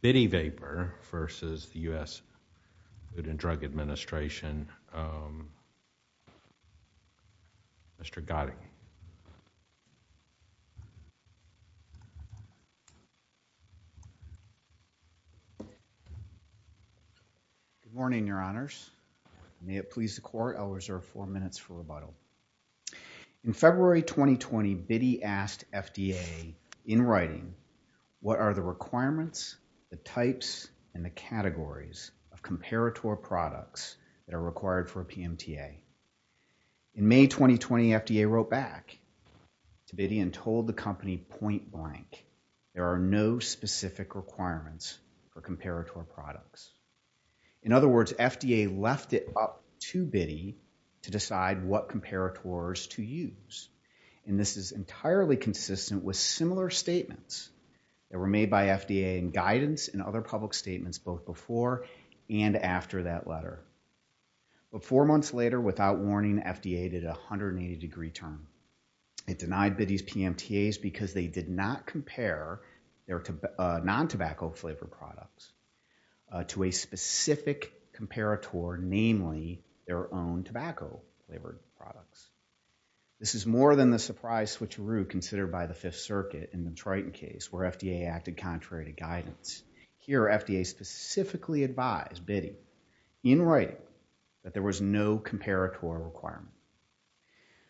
Bidi Vapor versus the U.S. Food and Drug Administration, Mr. Gotti. Good morning, your honors. May it please the court, I'll reserve four minutes for rebuttal. In February 2020, Bidi asked FDA in writing what are the requirements, the types, and the categories of comparator products that are required for a PMTA. In May 2020, FDA wrote back to Bidi and told the company point blank there are no specific requirements for comparator products. In other words, FDA left it up to Bidi to decide what comparators to use, and this is entirely consistent with similar statements that were made by FDA in guidance and other public statements both before and after that letter. But four months later, without warning, FDA did a 180 degree turn. It denied Bidi's PMTAs because they did not compare their non-tobacco flavored products to a specific comparator, namely their own tobacco flavored products. This is more than the surprise switcheroo considered by the Fifth Circuit in the Triton case where FDA acted contrary to guidance. Here, FDA specifically advised Bidi in writing that there was no comparator requirement.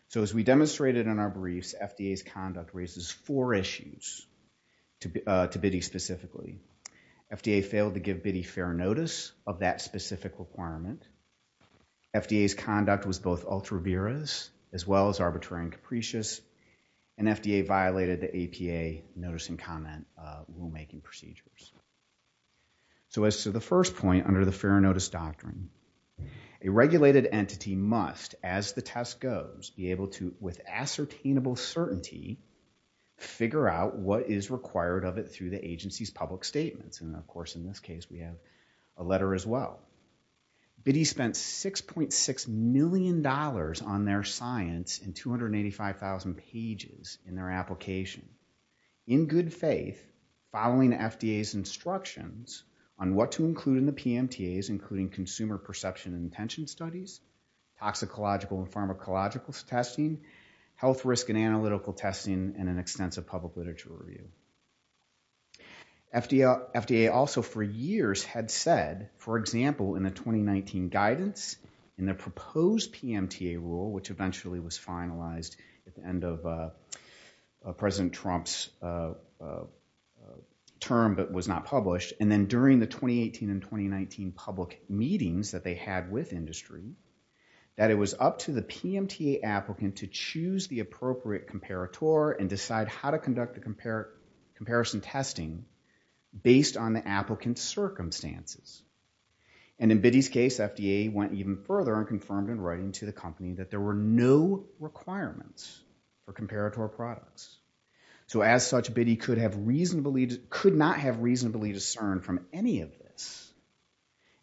So as we demonstrated in our briefs, FDA's conduct raises four issues to Bidi specifically. FDA failed to give Bidi fair notice of that specific requirement. FDA's conduct was both ultra-virous as well as arbitrary and capricious, and FDA violated the APA notice and comment rulemaking procedures. So as to the first point under the fair notice doctrine, a regulated entity must, as the test goes, be able to, with ascertainable certainty, figure out what is required of it through the agency's public statements. And of course, in this case, we have a letter as well. Bidi spent 6.6 million dollars on their science and 285,000 pages in their application. In good faith, following FDA's instructions on what to include in the PMTAs, including consumer perception and attention studies, toxicological and testing, and an extensive public literature review. FDA also for years had said, for example, in the 2019 guidance, in the proposed PMTA rule, which eventually was finalized at the end of President Trump's term but was not published, and then during the 2018 and 2019 public meetings that they had with industry, that it was up to the PMTA applicant to choose the appropriate comparator and decide how to conduct the comparison testing based on the applicant's circumstances. And in Bidi's case, FDA went even further and confirmed in writing to the company that there were no requirements for comparator products. So as such, Bidi could not have reasonably discerned from any of this,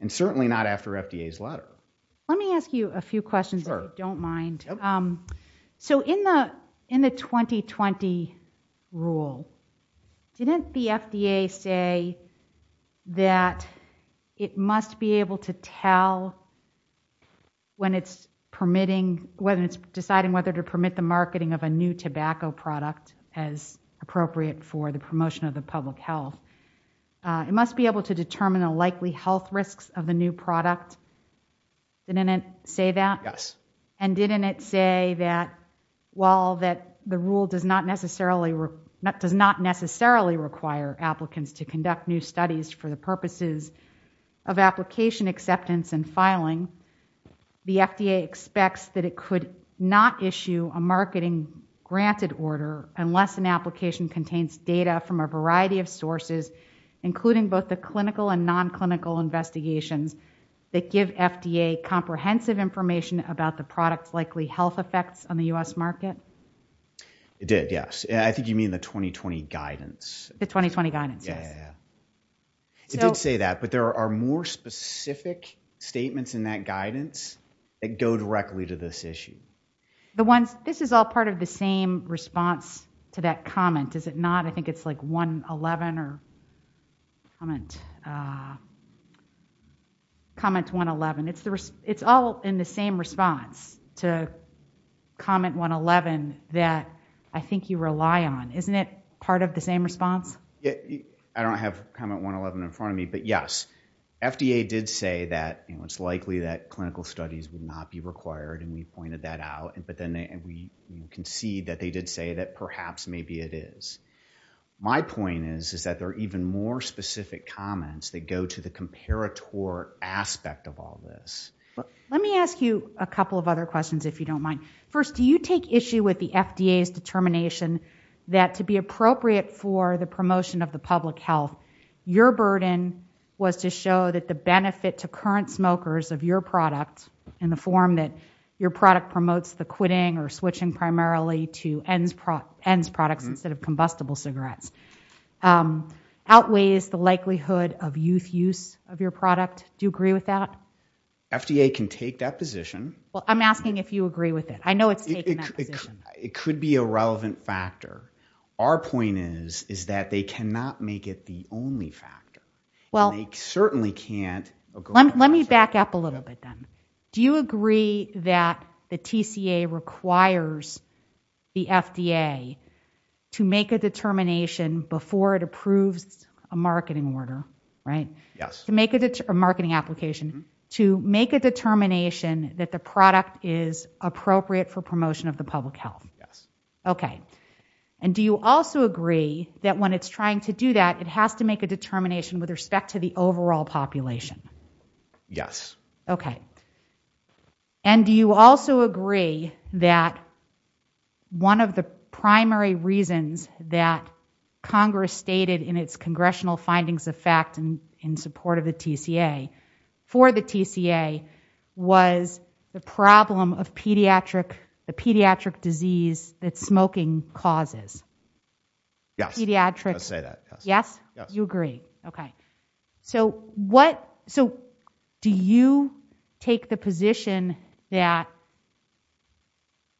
and certainly not after FDA's letter. Let me ask you a few questions if you don't mind. So in the 2020 rule, didn't the FDA say that it must be able to tell when it's deciding whether to permit the marketing of a new tobacco product as appropriate for the promotion of the public health? It must be able to determine the likely health risks of the new product. Didn't it say that? Yes. And didn't it say that while the rule does not necessarily require applicants to conduct new studies for the purposes of application acceptance and filing, the FDA expects that it could not issue a marketing granted order unless an application contains data from a variety of sources, including both clinical and non-clinical investigations that give FDA comprehensive information about the product's likely health effects on the U.S. market? It did, yes. I think you mean the 2020 guidance. The 2020 guidance, yes. It did say that, but there are more specific statements in that guidance that go directly to this issue. This is all part of the same response to that comment, is it not? I think it's like 111 or comment 111. It's all in the same response to comment 111 that I think you rely on. Isn't it part of the same response? I don't have comment 111 in front of me, but yes, FDA did say that it's likely that clinical studies would not be required and we pointed that out, but then we concede that they did say that perhaps maybe it is. My point is that there are even more specific comments that go to the comparator aspect of all this. Let me ask you a couple of other questions if you don't mind. First, do you take issue with the FDA's determination that to be appropriate for the promotion of the public health, your burden was to show that the benefit to current smokers of your product in the form that your product promotes the quitting or switching primarily to ends products instead of combustible cigarettes, outweighs the likelihood of youth use of your product. Do you agree with that? FDA can take that position. Well, I'm asking if you agree with it. I know it's taken that position. It could be a relevant factor. Our point is that they cannot make it the only factor. They certainly can't. Let me back up a little bit then. Do you agree that the TCA requires the FDA to make a determination before it approves a marketing application to make a determination that the product is appropriate for promotion of the public health? Yes. Okay. Do you also agree that when it's trying to do that, it has to make a determination with respect to the overall population? Yes. Okay. Do you also agree that one of the primary reasons that Congress stated in its congressional findings of fact in support of the TCA for the TCA was the problem of the pediatric disease that smoking causes? Yes. Pediatric. I say that. Yes? Yes. You agree. Okay. So, do you take the position that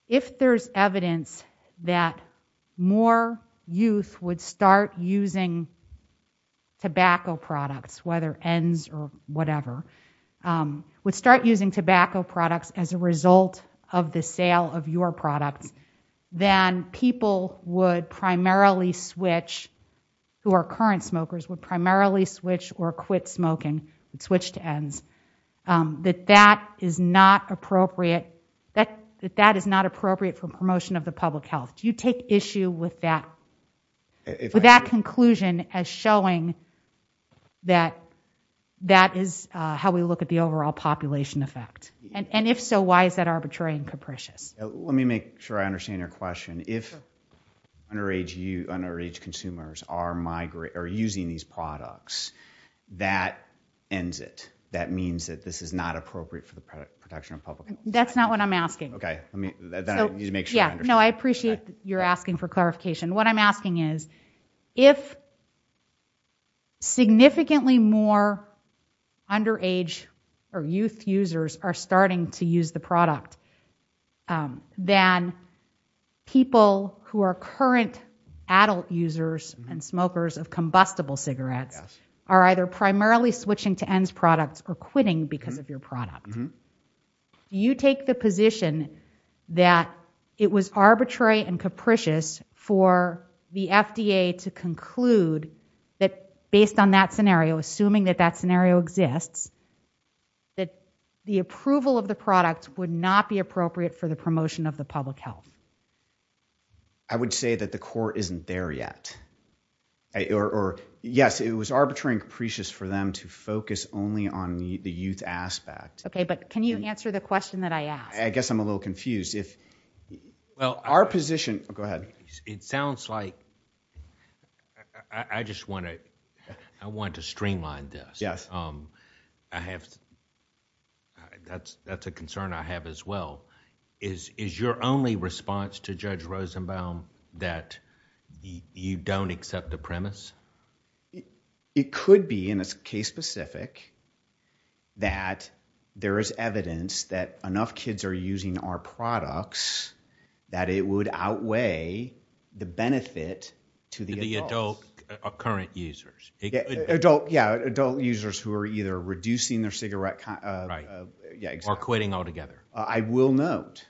if there's evidence that more youth would start using tobacco products, whether ENDS or whatever, would start using tobacco products as a result of the sale of your products, then people would primarily switch, who are current smokers, would primarily switch or quit smoking and switch to ENDS, that that is not appropriate for promotion of the public health? Do you take issue with that conclusion as showing that that is how we look at the overall population effect? And if so, why is that arbitrary and capricious? Let me make sure I understand your question. If underage consumers are using these products, that ends it. That means that this is not what I'm asking. Okay. Let me make sure I understand. No, I appreciate you're asking for clarification. What I'm asking is, if significantly more underage or youth users are starting to use the product, then people who are current adult users and smokers of combustible cigarettes are either primarily switching to ENDS products or quitting because of your product. Do you take the position that it was arbitrary and capricious for the FDA to conclude that, based on that scenario, assuming that that scenario exists, that the approval of the product would not be appropriate for the promotion of the public health? I would say that the court isn't there yet. Or yes, it was arbitrary and capricious for them to focus only on the youth aspect. Okay, but can you answer the question that I asked? I guess I'm a little confused. Our position... go ahead. It sounds like... I just want to streamline this. Yes. That's a concern I have as well. Is your only response to Judge Rosenbaum that you don't accept the premise? It could be, in this case specific, that there is evidence that enough kids are using our products that it would outweigh the benefit to the adults. The adult current users. Yes, adult users who are either reducing their cigarette... Right. Or quitting altogether. I will note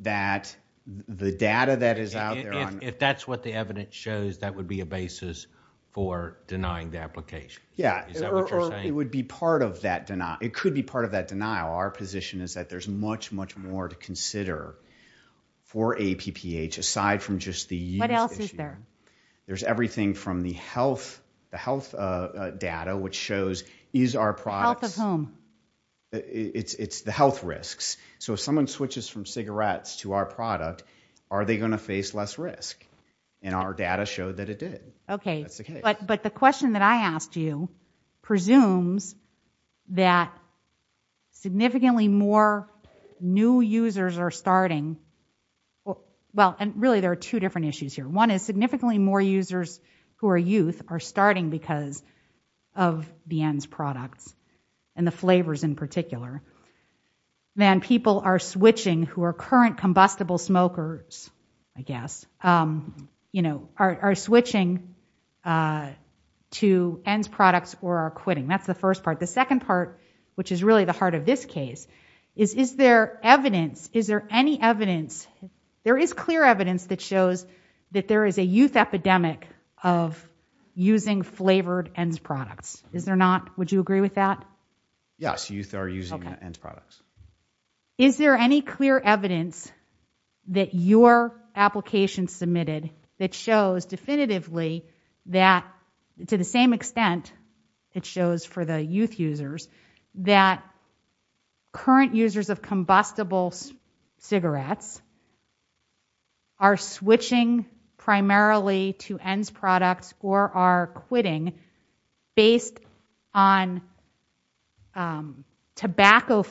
that the data that is out there... If that's what the evidence shows, that would be a basis for denying the application. Is that what you're saying? It would be part of that denial. It could be part of that denial. Our position is that there's much, much more to consider for APPH, aside from just the... What else is there? There's everything from the health data, which shows is our products... The health of whom? It's the health risks. So if someone switches from cigarettes to our product, are they going to face less risk? And our data showed that it did. Okay. But the question that I asked you presumes that significantly more new users are starting... Well, and really there are two different issues here. One is significantly more users who are youth are starting because of the ENDS products, and the flavors in particular, than people are switching who are current combustible smokers, I guess, you know, are switching to ENDS products or are quitting. That's the first part. The second part, which is really the heart of this case, is, is there evidence... Is there any evidence... There is clear evidence that shows that there is a youth epidemic of using flavored ENDS products. Is there not? Would you agree with that? Yes, youth are using ENDS products. Is there any clear evidence that your application submitted that shows definitively that, to the same extent it shows for the youth users, that current users of combustible cigarettes are switching primarily to ENDS products or are quitting based on tobacco...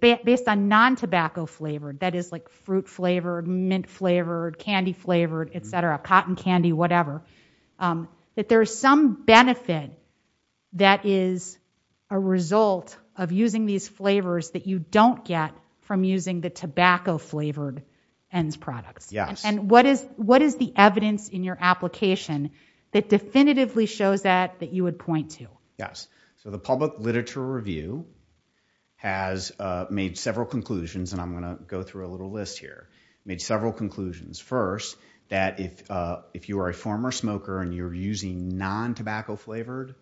based on non-tobacco flavored, that is like fruit flavored, mint flavored, candy flavored, etc., cotton candy, whatever, that there is some benefit that is a result of using these flavors that you don't get from using the tobacco flavored ENDS products? Yes. And what is, what is the evidence in your application that definitively shows that, that you would point to? Yes. So the public literature review has made several conclusions, and I'm going to go through a little list here, made several conclusions. First, that if, if you are a former smoker and you're using non-tobacco flavored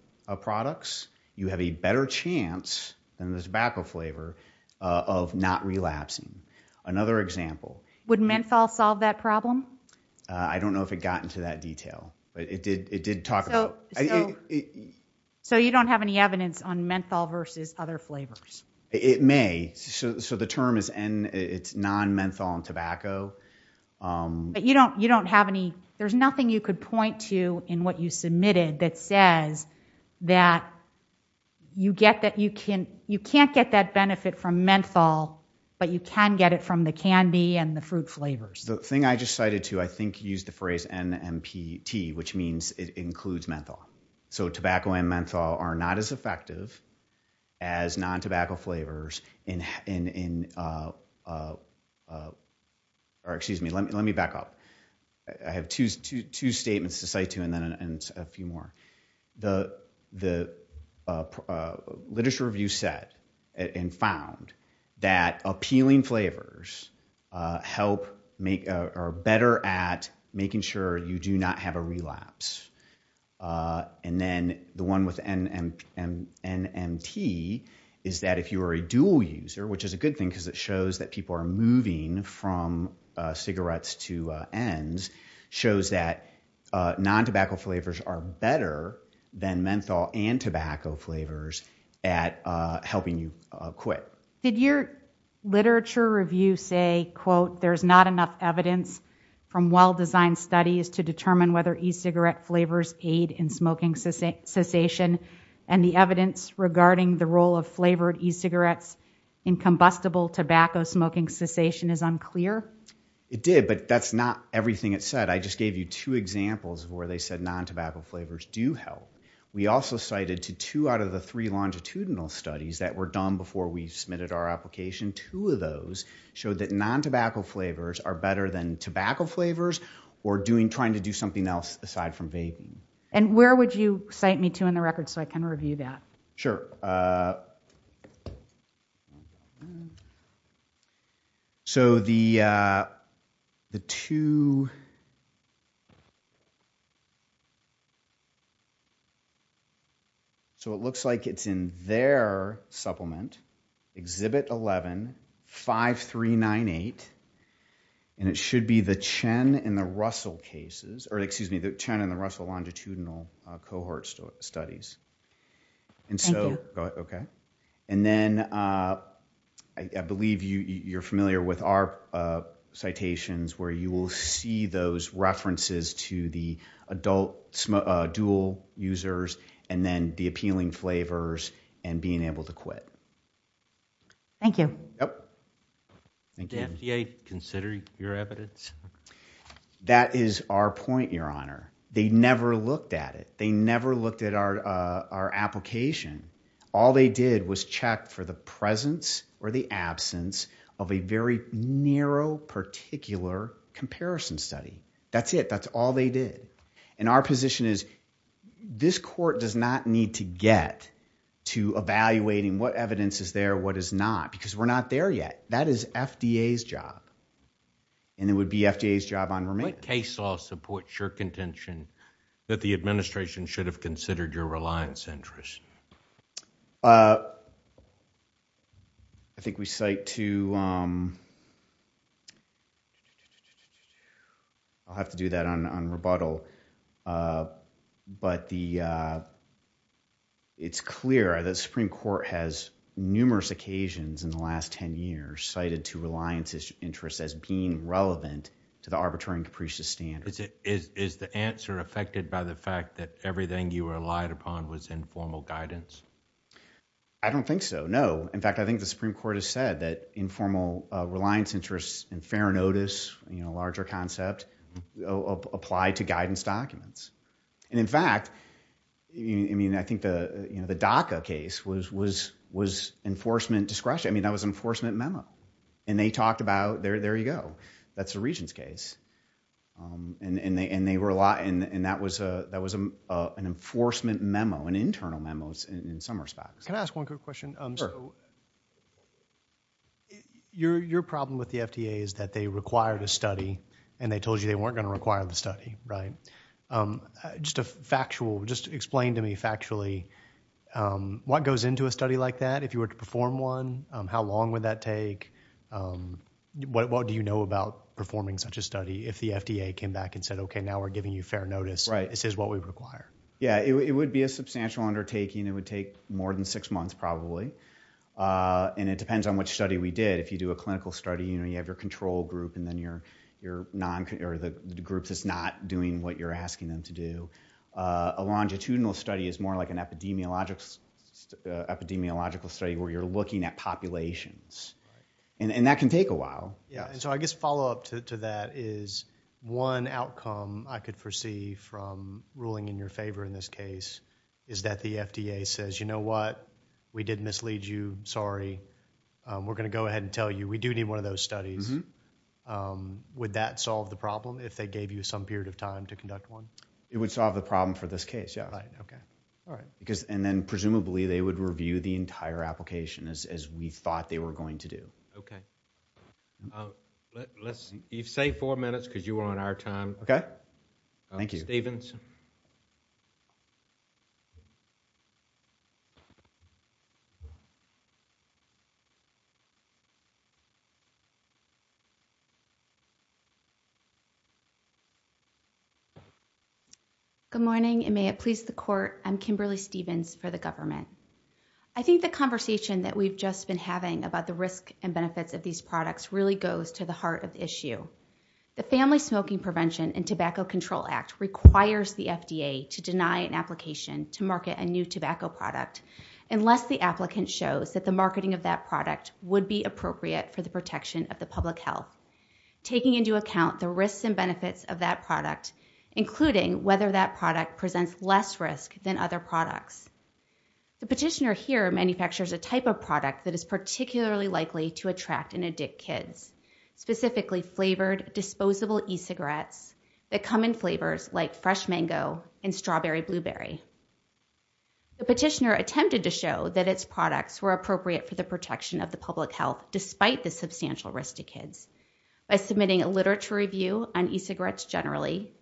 products, you have a better chance than the tobacco flavor of not relapsing. Another example... Would menthol solve that problem? I don't know if it got into that detail, but it did, it did talk about... So you don't have any evidence on menthol versus other flavors? It may. So the term is N, it's non-menthol and tobacco. But you don't, you don't have any, there's nothing you could point to in what you submitted that says that you get that you can, you can't get that benefit from menthol, but you can get it from the candy and the fruit flavors. The thing I just cited too, I think you used the phrase NMPT, which means it includes menthol. So tobacco and menthol are not as effective as non-tobacco flavors in, in, in, or excuse me, let me, let me back up. I have two, two, two statements to cite to, and then a few more. The, the literature review said and found that appealing flavors help make, are better at making sure you do not have a relapse. And then the one with NMPT is that if you are a dual user, which is a good thing because it shows that people are moving from cigarettes to ends, shows that non-tobacco flavors are better than menthol and tobacco flavors at helping you quit. Did your literature review say, quote, there's not enough evidence from well-designed studies to determine whether e-cigarette flavors aid in smoking cessation, and the evidence regarding the role of flavored e-cigarettes in combustible tobacco smoking cessation is unclear? It did, but that's not everything it said. I just gave you two examples where they said non-tobacco flavors do help. We also cited to two out of the three longitudinal studies that were done before we submitted our application, two of those showed that non-tobacco flavors are better than tobacco flavors or doing, trying to do something else aside from vaping. And where would you cite me to in the record so I can review that? Sure. So the two, so it looks like it's in their supplement, Exhibit 11-5398, and it should be the Chen and the Russell cases, or excuse me, the Chen and the Russell longitudinal cohort studies. Thank you. Okay. And then I believe you're familiar with our citations where you will see those references to the adult dual users and then the appealing flavors and being able to quit. Thank you. Thank you. Did FDA consider your evidence? That is our point, Your Honor. They never looked at it. Our application, all they did was check for the presence or the absence of a very narrow, particular comparison study. That's it. That's all they did. And our position is this court does not need to get to evaluating what evidence is there, what is not, because we're not there yet. That is FDA's job. And it would be FDA's job on remains. What case law supports your contention that the administration should have considered your reliance interest? I think we cite to... I'll have to do that on rebuttal. But it's clear that the Supreme Court has numerous occasions in the last ten years cited to reliance interest as being relevant to the Arbiter and Caprice's standards. Is the answer affected by the fact that everything you relied upon was informal guidance? I don't think so, no. In fact, I think the Supreme Court has said that informal reliance interests and fair notice, you know, larger concept, apply to guidance documents. And in fact, I think the DACA case was enforcement discretion. I mean, that was an enforcement memo. And they talked about, there you go. That's the regent's case. And they were a lot... And that was an enforcement memo, an internal memo in some respects. Can I ask one quick question? Your problem with the FDA is that they required a study, and they told you they weren't going to require the study, right? Just a factual, just explain to me factually, what goes into a study like that? If you were to perform one, how long would that take? What do you know about performing such a study if the FDA came back and said, okay, now we're giving you fair notice, this is what we require? Yeah, it would be a substantial undertaking. It would take more than six months, probably. And it depends on which study we did. If you do a clinical study, you know, you have your control group, and then you're, you're not, or the group that's not doing what you're asking them to do. A longitudinal study is more like an epidemiological study where you're looking at populations. And that can take a while. Yeah, and so I guess follow up to that is one outcome I could foresee from ruling in your favor in this case is that the FDA says, you know what? We did mislead you, sorry. We're going to go ahead and tell you, we do need one of those studies. Would that solve the problem if they gave you some period of time to conduct one? It would solve the problem for this case, yeah. Right, okay, all right. Because, and then presumably, they would review the entire application as we thought they were going to do. Okay, let's, you've saved four minutes because you were on our time. Okay, thank you. Stephens. Good morning, and may it please the court. I'm Kimberly Stephens for the government. I think the conversation that we've just been having about the risk and benefits of these products really goes to the heart of the issue. The Family Smoking Prevention and Tobacco Control Act requires the FDA to deny an application to market a new tobacco product unless the applicant shows that the marketing of that product would be appropriate for the protection of the public health, taking into account the risks and benefits of that product, presents less risk than other products. The petitioner here manufactures a type of product that is particularly likely to attract and addict kids, specifically flavored, disposable e-cigarettes that come in flavors like fresh mango and strawberry blueberry. The petitioner attempted to show that its products were appropriate for the protection of the public health despite the substantial risk to kids by submitting a literature review on e-cigarettes generally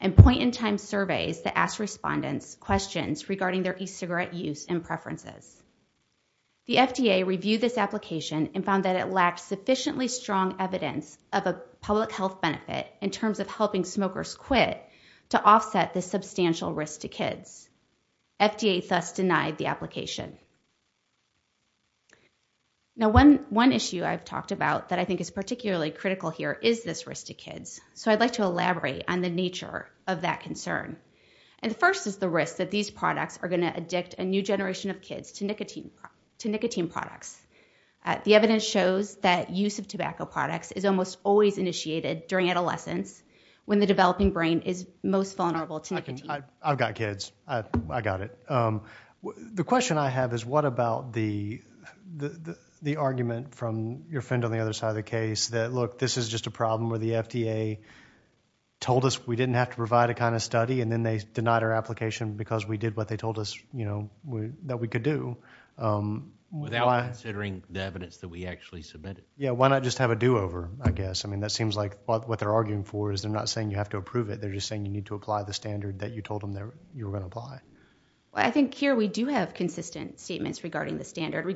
and point-in-time surveys that ask respondents questions regarding their e-cigarette use and preferences. The FDA reviewed this application and found that it lacked sufficiently strong evidence of a public health benefit in terms of helping smokers quit to offset the substantial risk to kids. FDA thus denied the application. Now, one issue I've talked about that I think is particularly critical here is this risk to kids. So I'd like to elaborate on the nature of that concern. And the first is the risk that these products are going to addict a new generation of kids to nicotine products. The evidence shows that use of tobacco products is almost always initiated during adolescence when the developing brain is most vulnerable to nicotine. I've got kids. I got it. The question I have is what about the argument from your friend on the other side of the case that, look, this is just a problem where the FDA told us we didn't have to provide a kind of study and then they denied our application because we did what they told us that we could do? Without considering the evidence that we actually submitted. Yeah, why not just have a do-over, I guess? I mean, that seems like what they're arguing for is they're not saying you have to approve it. They're just saying you need to apply the standard that you told them that you were going to apply. I think here we do have consistent statements regarding the standard,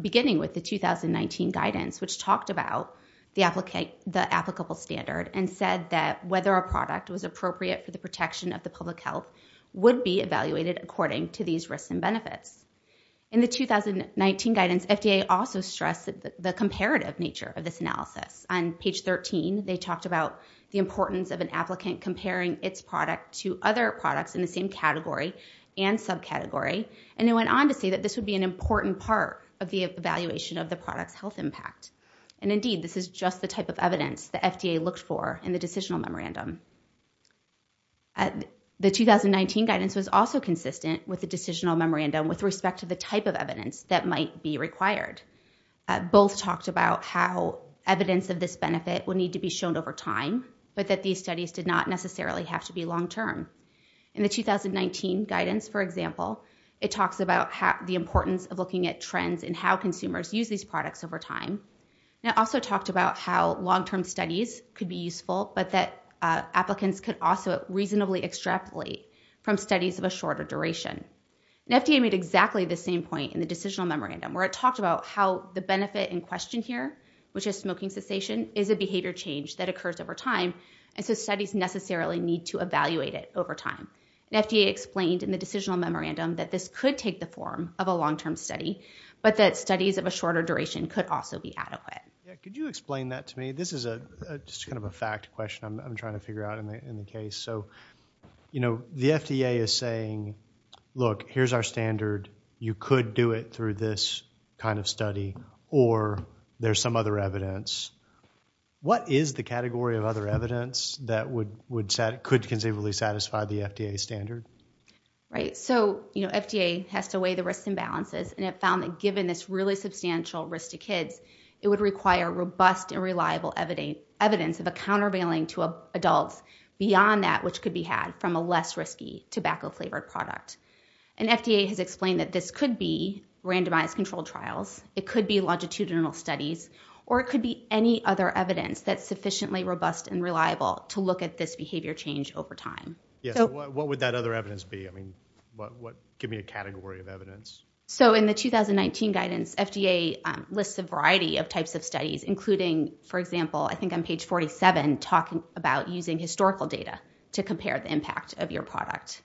beginning with the 2019 guidance, which talked about the applicable standard and said that whether a product was appropriate for the protection of the public health would be evaluated according to these risks and benefits. In the 2019 guidance, FDA also stressed the comparative nature of this analysis. On page 13, they talked about the importance of an applicant comparing its product to other products in the same category and subcategory. And they went on to say that this would be an important part of the evaluation of the product's health impact. And indeed, this is just the type of evidence the FDA looked for in the decisional memorandum. The 2019 guidance was also consistent with the decisional memorandum with respect to the type of evidence that might be required. Both talked about how evidence of this benefit would need to be shown over time, but that these studies did not necessarily have to be long-term. In the 2019 guidance, for example, it talks about the importance of looking at trends and how consumers use these products over time. And it also talked about how long-term studies could be useful, but that applicants could also reasonably extrapolate from studies of a shorter duration. And FDA made exactly the same point in the decisional memorandum, where it talked about how the benefit in question here, which is smoking cessation, is a behavior change that occurs over time. And so studies necessarily need to evaluate it over time. And FDA explained in the decisional memorandum that this could take the form of a long-term study, but that studies of a shorter duration could also be adequate. Yeah, could you explain that to me? This is just kind of a fact question I'm trying to figure out in the case. So, you know, the FDA is saying, look, here's our standard. You could do it through this kind of study, or there's some other evidence. What is the category of other evidence that could conceivably satisfy the FDA standard? Right. So, you know, FDA has to weigh the risks and balances, and it found that given this really substantial risk to kids, it would require robust and reliable evidence of a countervailing to adults beyond that which could be had from a less risky tobacco-flavored product. And FDA has explained that this could be randomized controlled trials, it could be longitudinal studies, or it could be any other evidence that's sufficiently robust and reliable to look at this behavior change over time. Yeah, so what would that other evidence be? I mean, give me a category of evidence. So in the 2019 guidance, FDA lists a variety of types of studies, including, for example, I think on page 47, talking about using historical data to compare the impact of your product.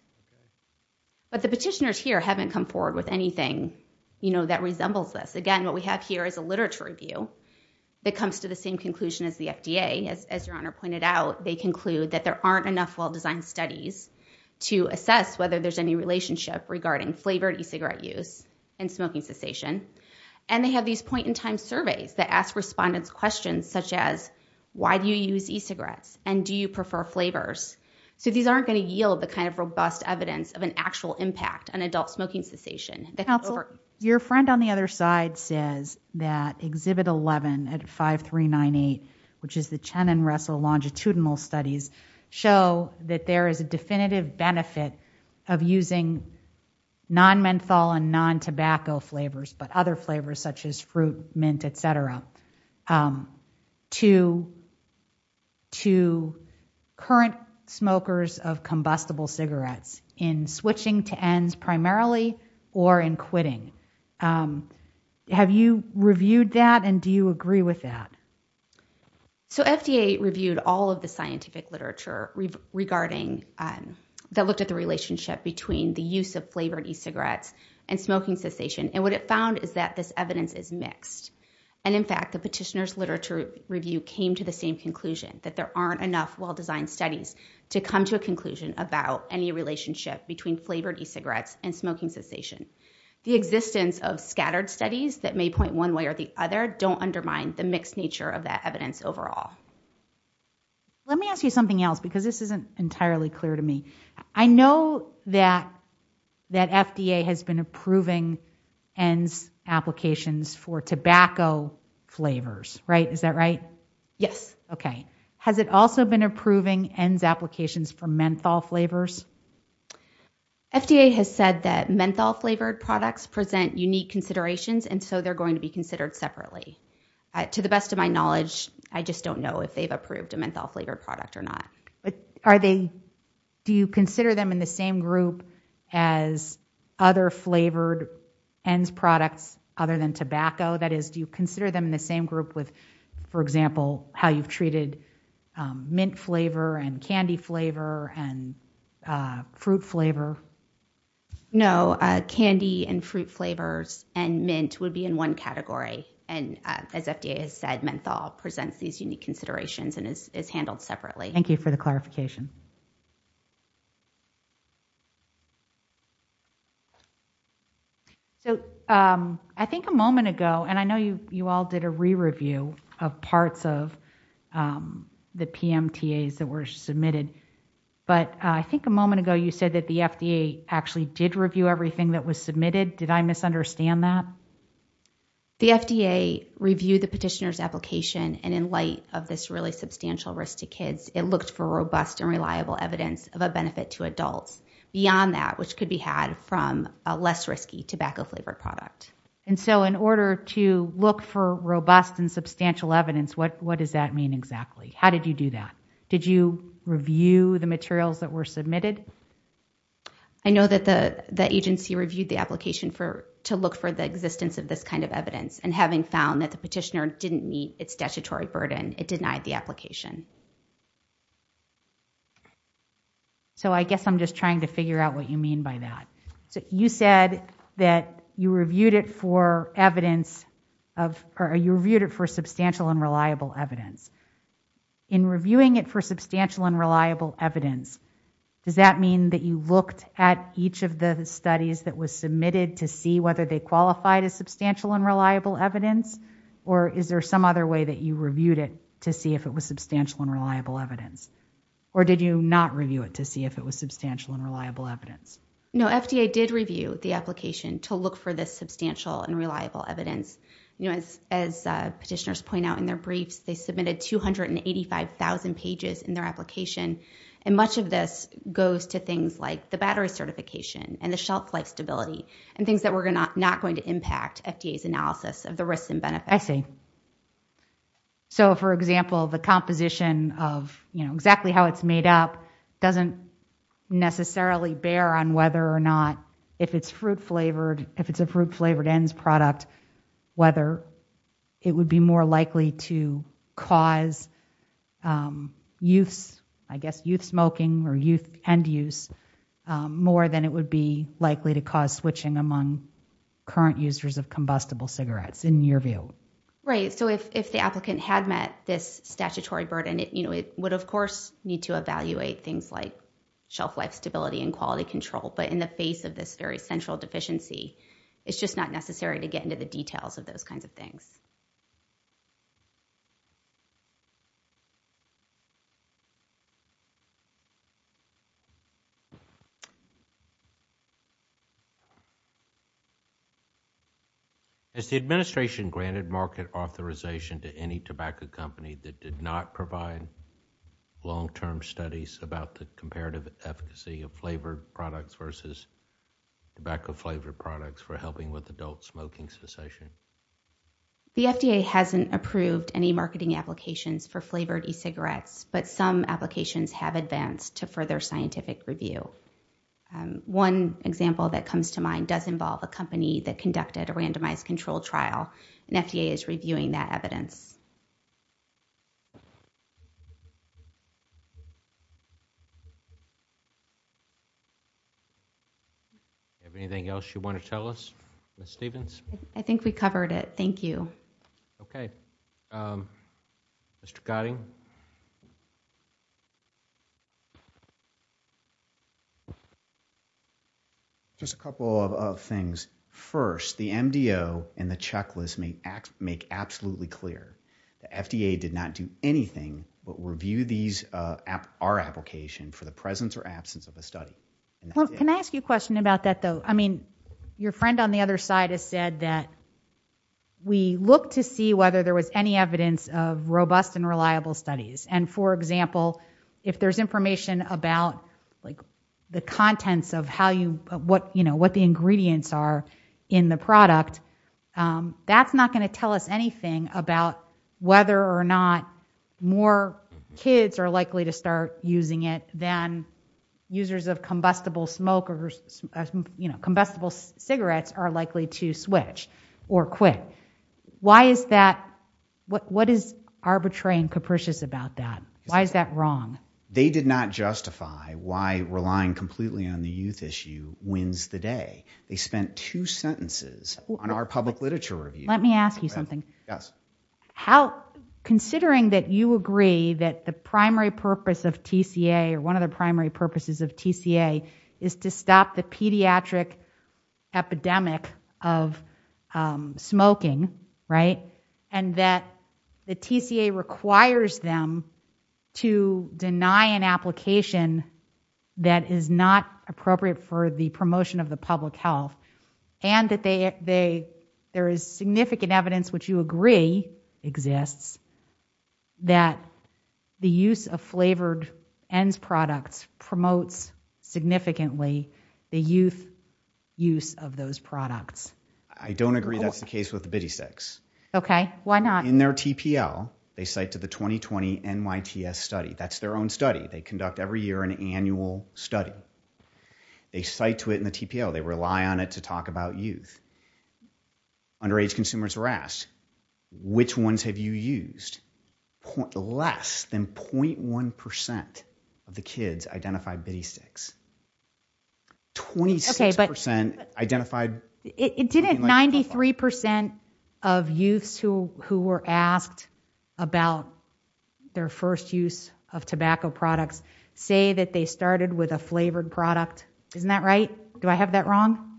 But the petitioners here haven't come forward with anything, you know, that resembles this. Again, what we have here is a literature review that comes to the same conclusion as the FDA. As your honor pointed out, they conclude that there aren't enough well-designed studies to assess whether there's any relationship regarding flavored e-cigarette use and smoking cessation. And they have these point-in-time surveys that ask respondents questions such as, why do you use e-cigarettes? And do you prefer flavors? So these aren't going to yield the kind of robust evidence of an actual impact on adult smoking cessation. Your friend on the other side says that Exhibit 11 at 5398, which is the Chen and Russell longitudinal studies, show that there is a definitive benefit of using non-methyl and non-tobacco flavors, but other flavors such as fruit, mint, et cetera, to current smokers of combustible cigarettes in switching to ENDS primarily or in quitting. Have you reviewed that? And do you agree with that? So FDA reviewed all of the scientific literature regarding, that looked at the relationship between the use of flavored e-cigarettes and smoking cessation. And what it found is that this evidence is mixed. And in fact, the petitioner's literature review came to the same conclusion, that there aren't enough well-designed studies to come to a conclusion about any relationship between flavored e-cigarettes and smoking cessation. The existence of scattered studies that may point one way or the other don't undermine the mixed nature of that evidence overall. Let me ask you something else because this isn't entirely clear to me. I know that FDA has been approving ENDS applications for tobacco flavors, right? Is that right? Yes. Okay. Has it also been approving ENDS applications for menthol flavors? FDA has said that menthol flavored products present unique considerations. And so they're going to be considered separately. To the best of my knowledge, I just don't know if they've approved a menthol flavored product or not. Are they, do you consider them in the same group as other flavored ENDS products other than tobacco? That is, do you consider them in the same group with, for example, how you've treated mint flavor and candy flavor and fruit flavor? No, candy and fruit flavors and mint would be in one category. And as FDA has said, menthol presents these unique considerations and is handled separately. Thank you for the clarification. So I think a moment ago, and I know you all did a re-review of parts of the PMTAs that were submitted. But I think a moment ago, you said that the FDA actually did review everything that was submitted. Did I misunderstand that? The FDA reviewed the petitioner's application. And in light of this really substantial risk to kids, it looked for robust and reliable evidence of a benefit to adults beyond that, which could be had from a less risky tobacco flavored product. And so in order to look for robust and substantial evidence, what does that mean exactly? How did you do that? Did you review the materials that were submitted? I know that the agency reviewed the application to look for the existence of this kind of evidence. And having found that the petitioner didn't meet its statutory burden, it denied the application. So I guess I'm just trying to figure out what you mean by that. So you said that you reviewed it for evidence of, or you reviewed it for substantial and reliable evidence. In reviewing it for substantial and reliable evidence, does that mean that you looked at each of the studies that was submitted to see whether they qualified as substantial and reliable evidence? Or is there some other way that you reviewed it to see if it was substantial and reliable evidence? Or did you not review it to see if it was substantial and reliable evidence? No, FDA did review the application to look for this substantial and reliable evidence. As petitioners point out in their briefs, they submitted 285,000 pages in their application. And much of this goes to things like the battery certification and the shelf life stability and things that were not going to impact FDA's analysis of the risks and benefits. I see. So, for example, the composition of exactly how it's made up doesn't necessarily bear on whether or not, if it's fruit flavored, if it's a fruit flavored ends product, whether it would be more likely to cause youths, I guess youth smoking or youth end use, more than it would be likely to cause switching among current users of combustible cigarettes in your view. So if the applicant had met this statutory burden, it would of course need to evaluate things like shelf life stability and quality control. But in the face of this very central deficiency, to get into the details of those kinds of things. Has the administration granted market authorization to any tobacco company that did not provide long term studies about the comparative efficacy of flavored products versus tobacco flavored products for helping with adult smoking cessation? The FDA hasn't approved any marketing applications for flavored e-cigarettes, but some applications have advanced to further scientific review. One example that comes to mind does involve a company that conducted a randomized controlled trial and FDA is reviewing that evidence. Do you have anything else you want to tell us, Ms. Stephens? I think we covered it. Thank you. Okay. Mr. Gotting? Just a couple of things. First, the MDO and the checklist make absolutely clear the FDA did not do anything but review our application for the presence or absence of a study. Can I ask you a question about that though? I mean, your friend on the other side has said that we look to see whether there was any evidence of robust and reliable studies. And for example, if there's information about the contents of what the ingredients are in the product, that's not going to tell us anything about whether or not more kids are likely to start using it than users of combustible smoke or combustible cigarettes are likely to switch or quit. Why is that? What is arbitrary and capricious about that? Why is that wrong? They did not justify why relying completely on the youth issue wins the day. They spent two sentences on our public literature review. Let me ask you something. Yes. Considering that you agree that the primary purpose of TCA or one of the primary purposes of TCA is to stop the pediatric epidemic of smoking, and that the TCA requires them to deny an application that is not appropriate for the promotion of the public health, and that there is significant evidence, which you agree exists, that the use of flavored ends products promotes significantly the youth use of those products. I don't agree that's the case with the bidisecs. Okay. Why not? In their TPL, they cite to the 2020 NYTS study. That's their own study. They conduct every year an annual study. They cite to it in the TPL. They rely on it to talk about youth. Underage consumers were asked, which ones have you used? Less than 0.1% of the kids identified bidisecs. 26% identified... Didn't 93% of youths who were asked about their first use of tobacco products say that they started with a flavored product? Isn't that right? Do I have that wrong?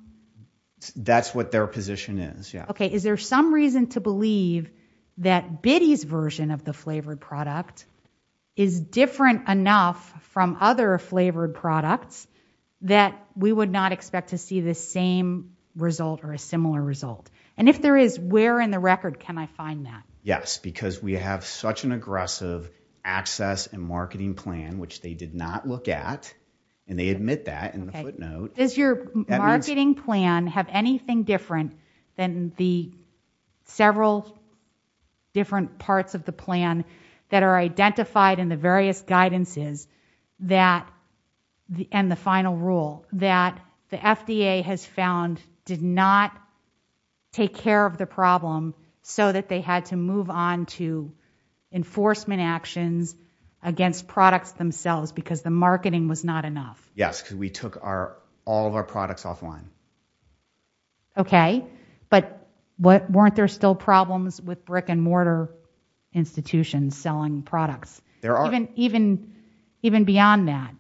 That's what their position is, yeah. Okay. Is there some reason to believe that bidis version of the flavored product is different enough from other flavored products that we would not expect to see the same result or a similar result? And if there is, where in the record can I find that? Yes, because we have such an aggressive access and marketing plan, which they did not look at. And they admit that in the footnote. Does your marketing plan have anything different than the several different parts of the plan that are identified in the various guidances and the final rule that the FDA has found did not take care of the problem so that they had to move on to enforcement actions against products themselves because the marketing was not enough? Yes, because we took all of our products offline. Okay, but weren't there still problems with brick and mortar institutions selling products? There are. Even beyond that?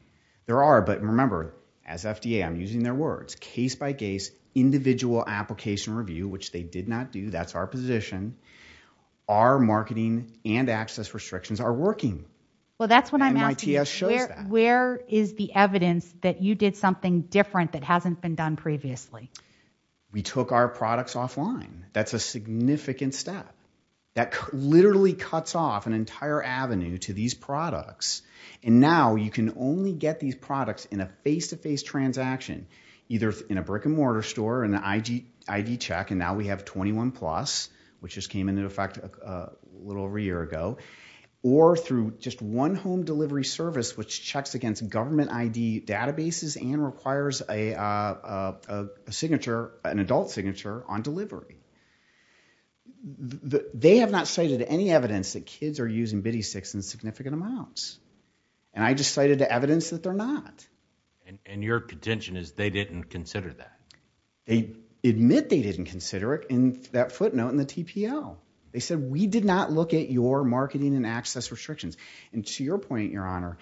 There are, but remember, as FDA, I'm using their words, case by case, individual application review, which they did not do. That's our position. Our marketing and access restrictions are working. Well, that's what I'm asking. And NITS shows that. Where is the evidence that you did something different that hasn't been done previously? We took our products offline. That's a significant step. That literally cuts off an entire avenue to these products. And now you can only get these products in a face-to-face transaction, either in a brick and mortar store and an ID check, and now we have 21+, which just came into effect a little over a year ago, or through just one home delivery service, which checks against government ID databases and requires an adult signature on delivery. They have not cited any evidence that kids are using biddy sticks in significant amounts. And I just cited the evidence that they're not. And your contention is they didn't consider that? They admit they didn't consider it in that footnote in the TPO. They said, we did not look at your marketing and access restrictions. And to your point, Your Honor,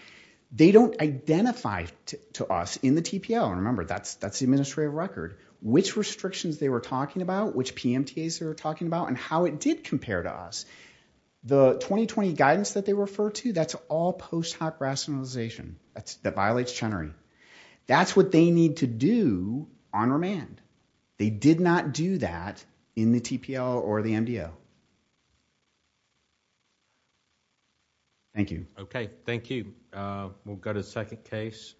they don't identify to us in the TPO, and remember, that's the administrative record, which restrictions they were talking about, which PMTAs they were talking about, and how it did compare to us. The 2020 guidance that they refer to, that's all post hoc rationalization. That's that violates Chenery. That's what they need to do on remand. They did not do that in the TPO or the MDO. Thank you. Okay, thank you. We'll go to the second case.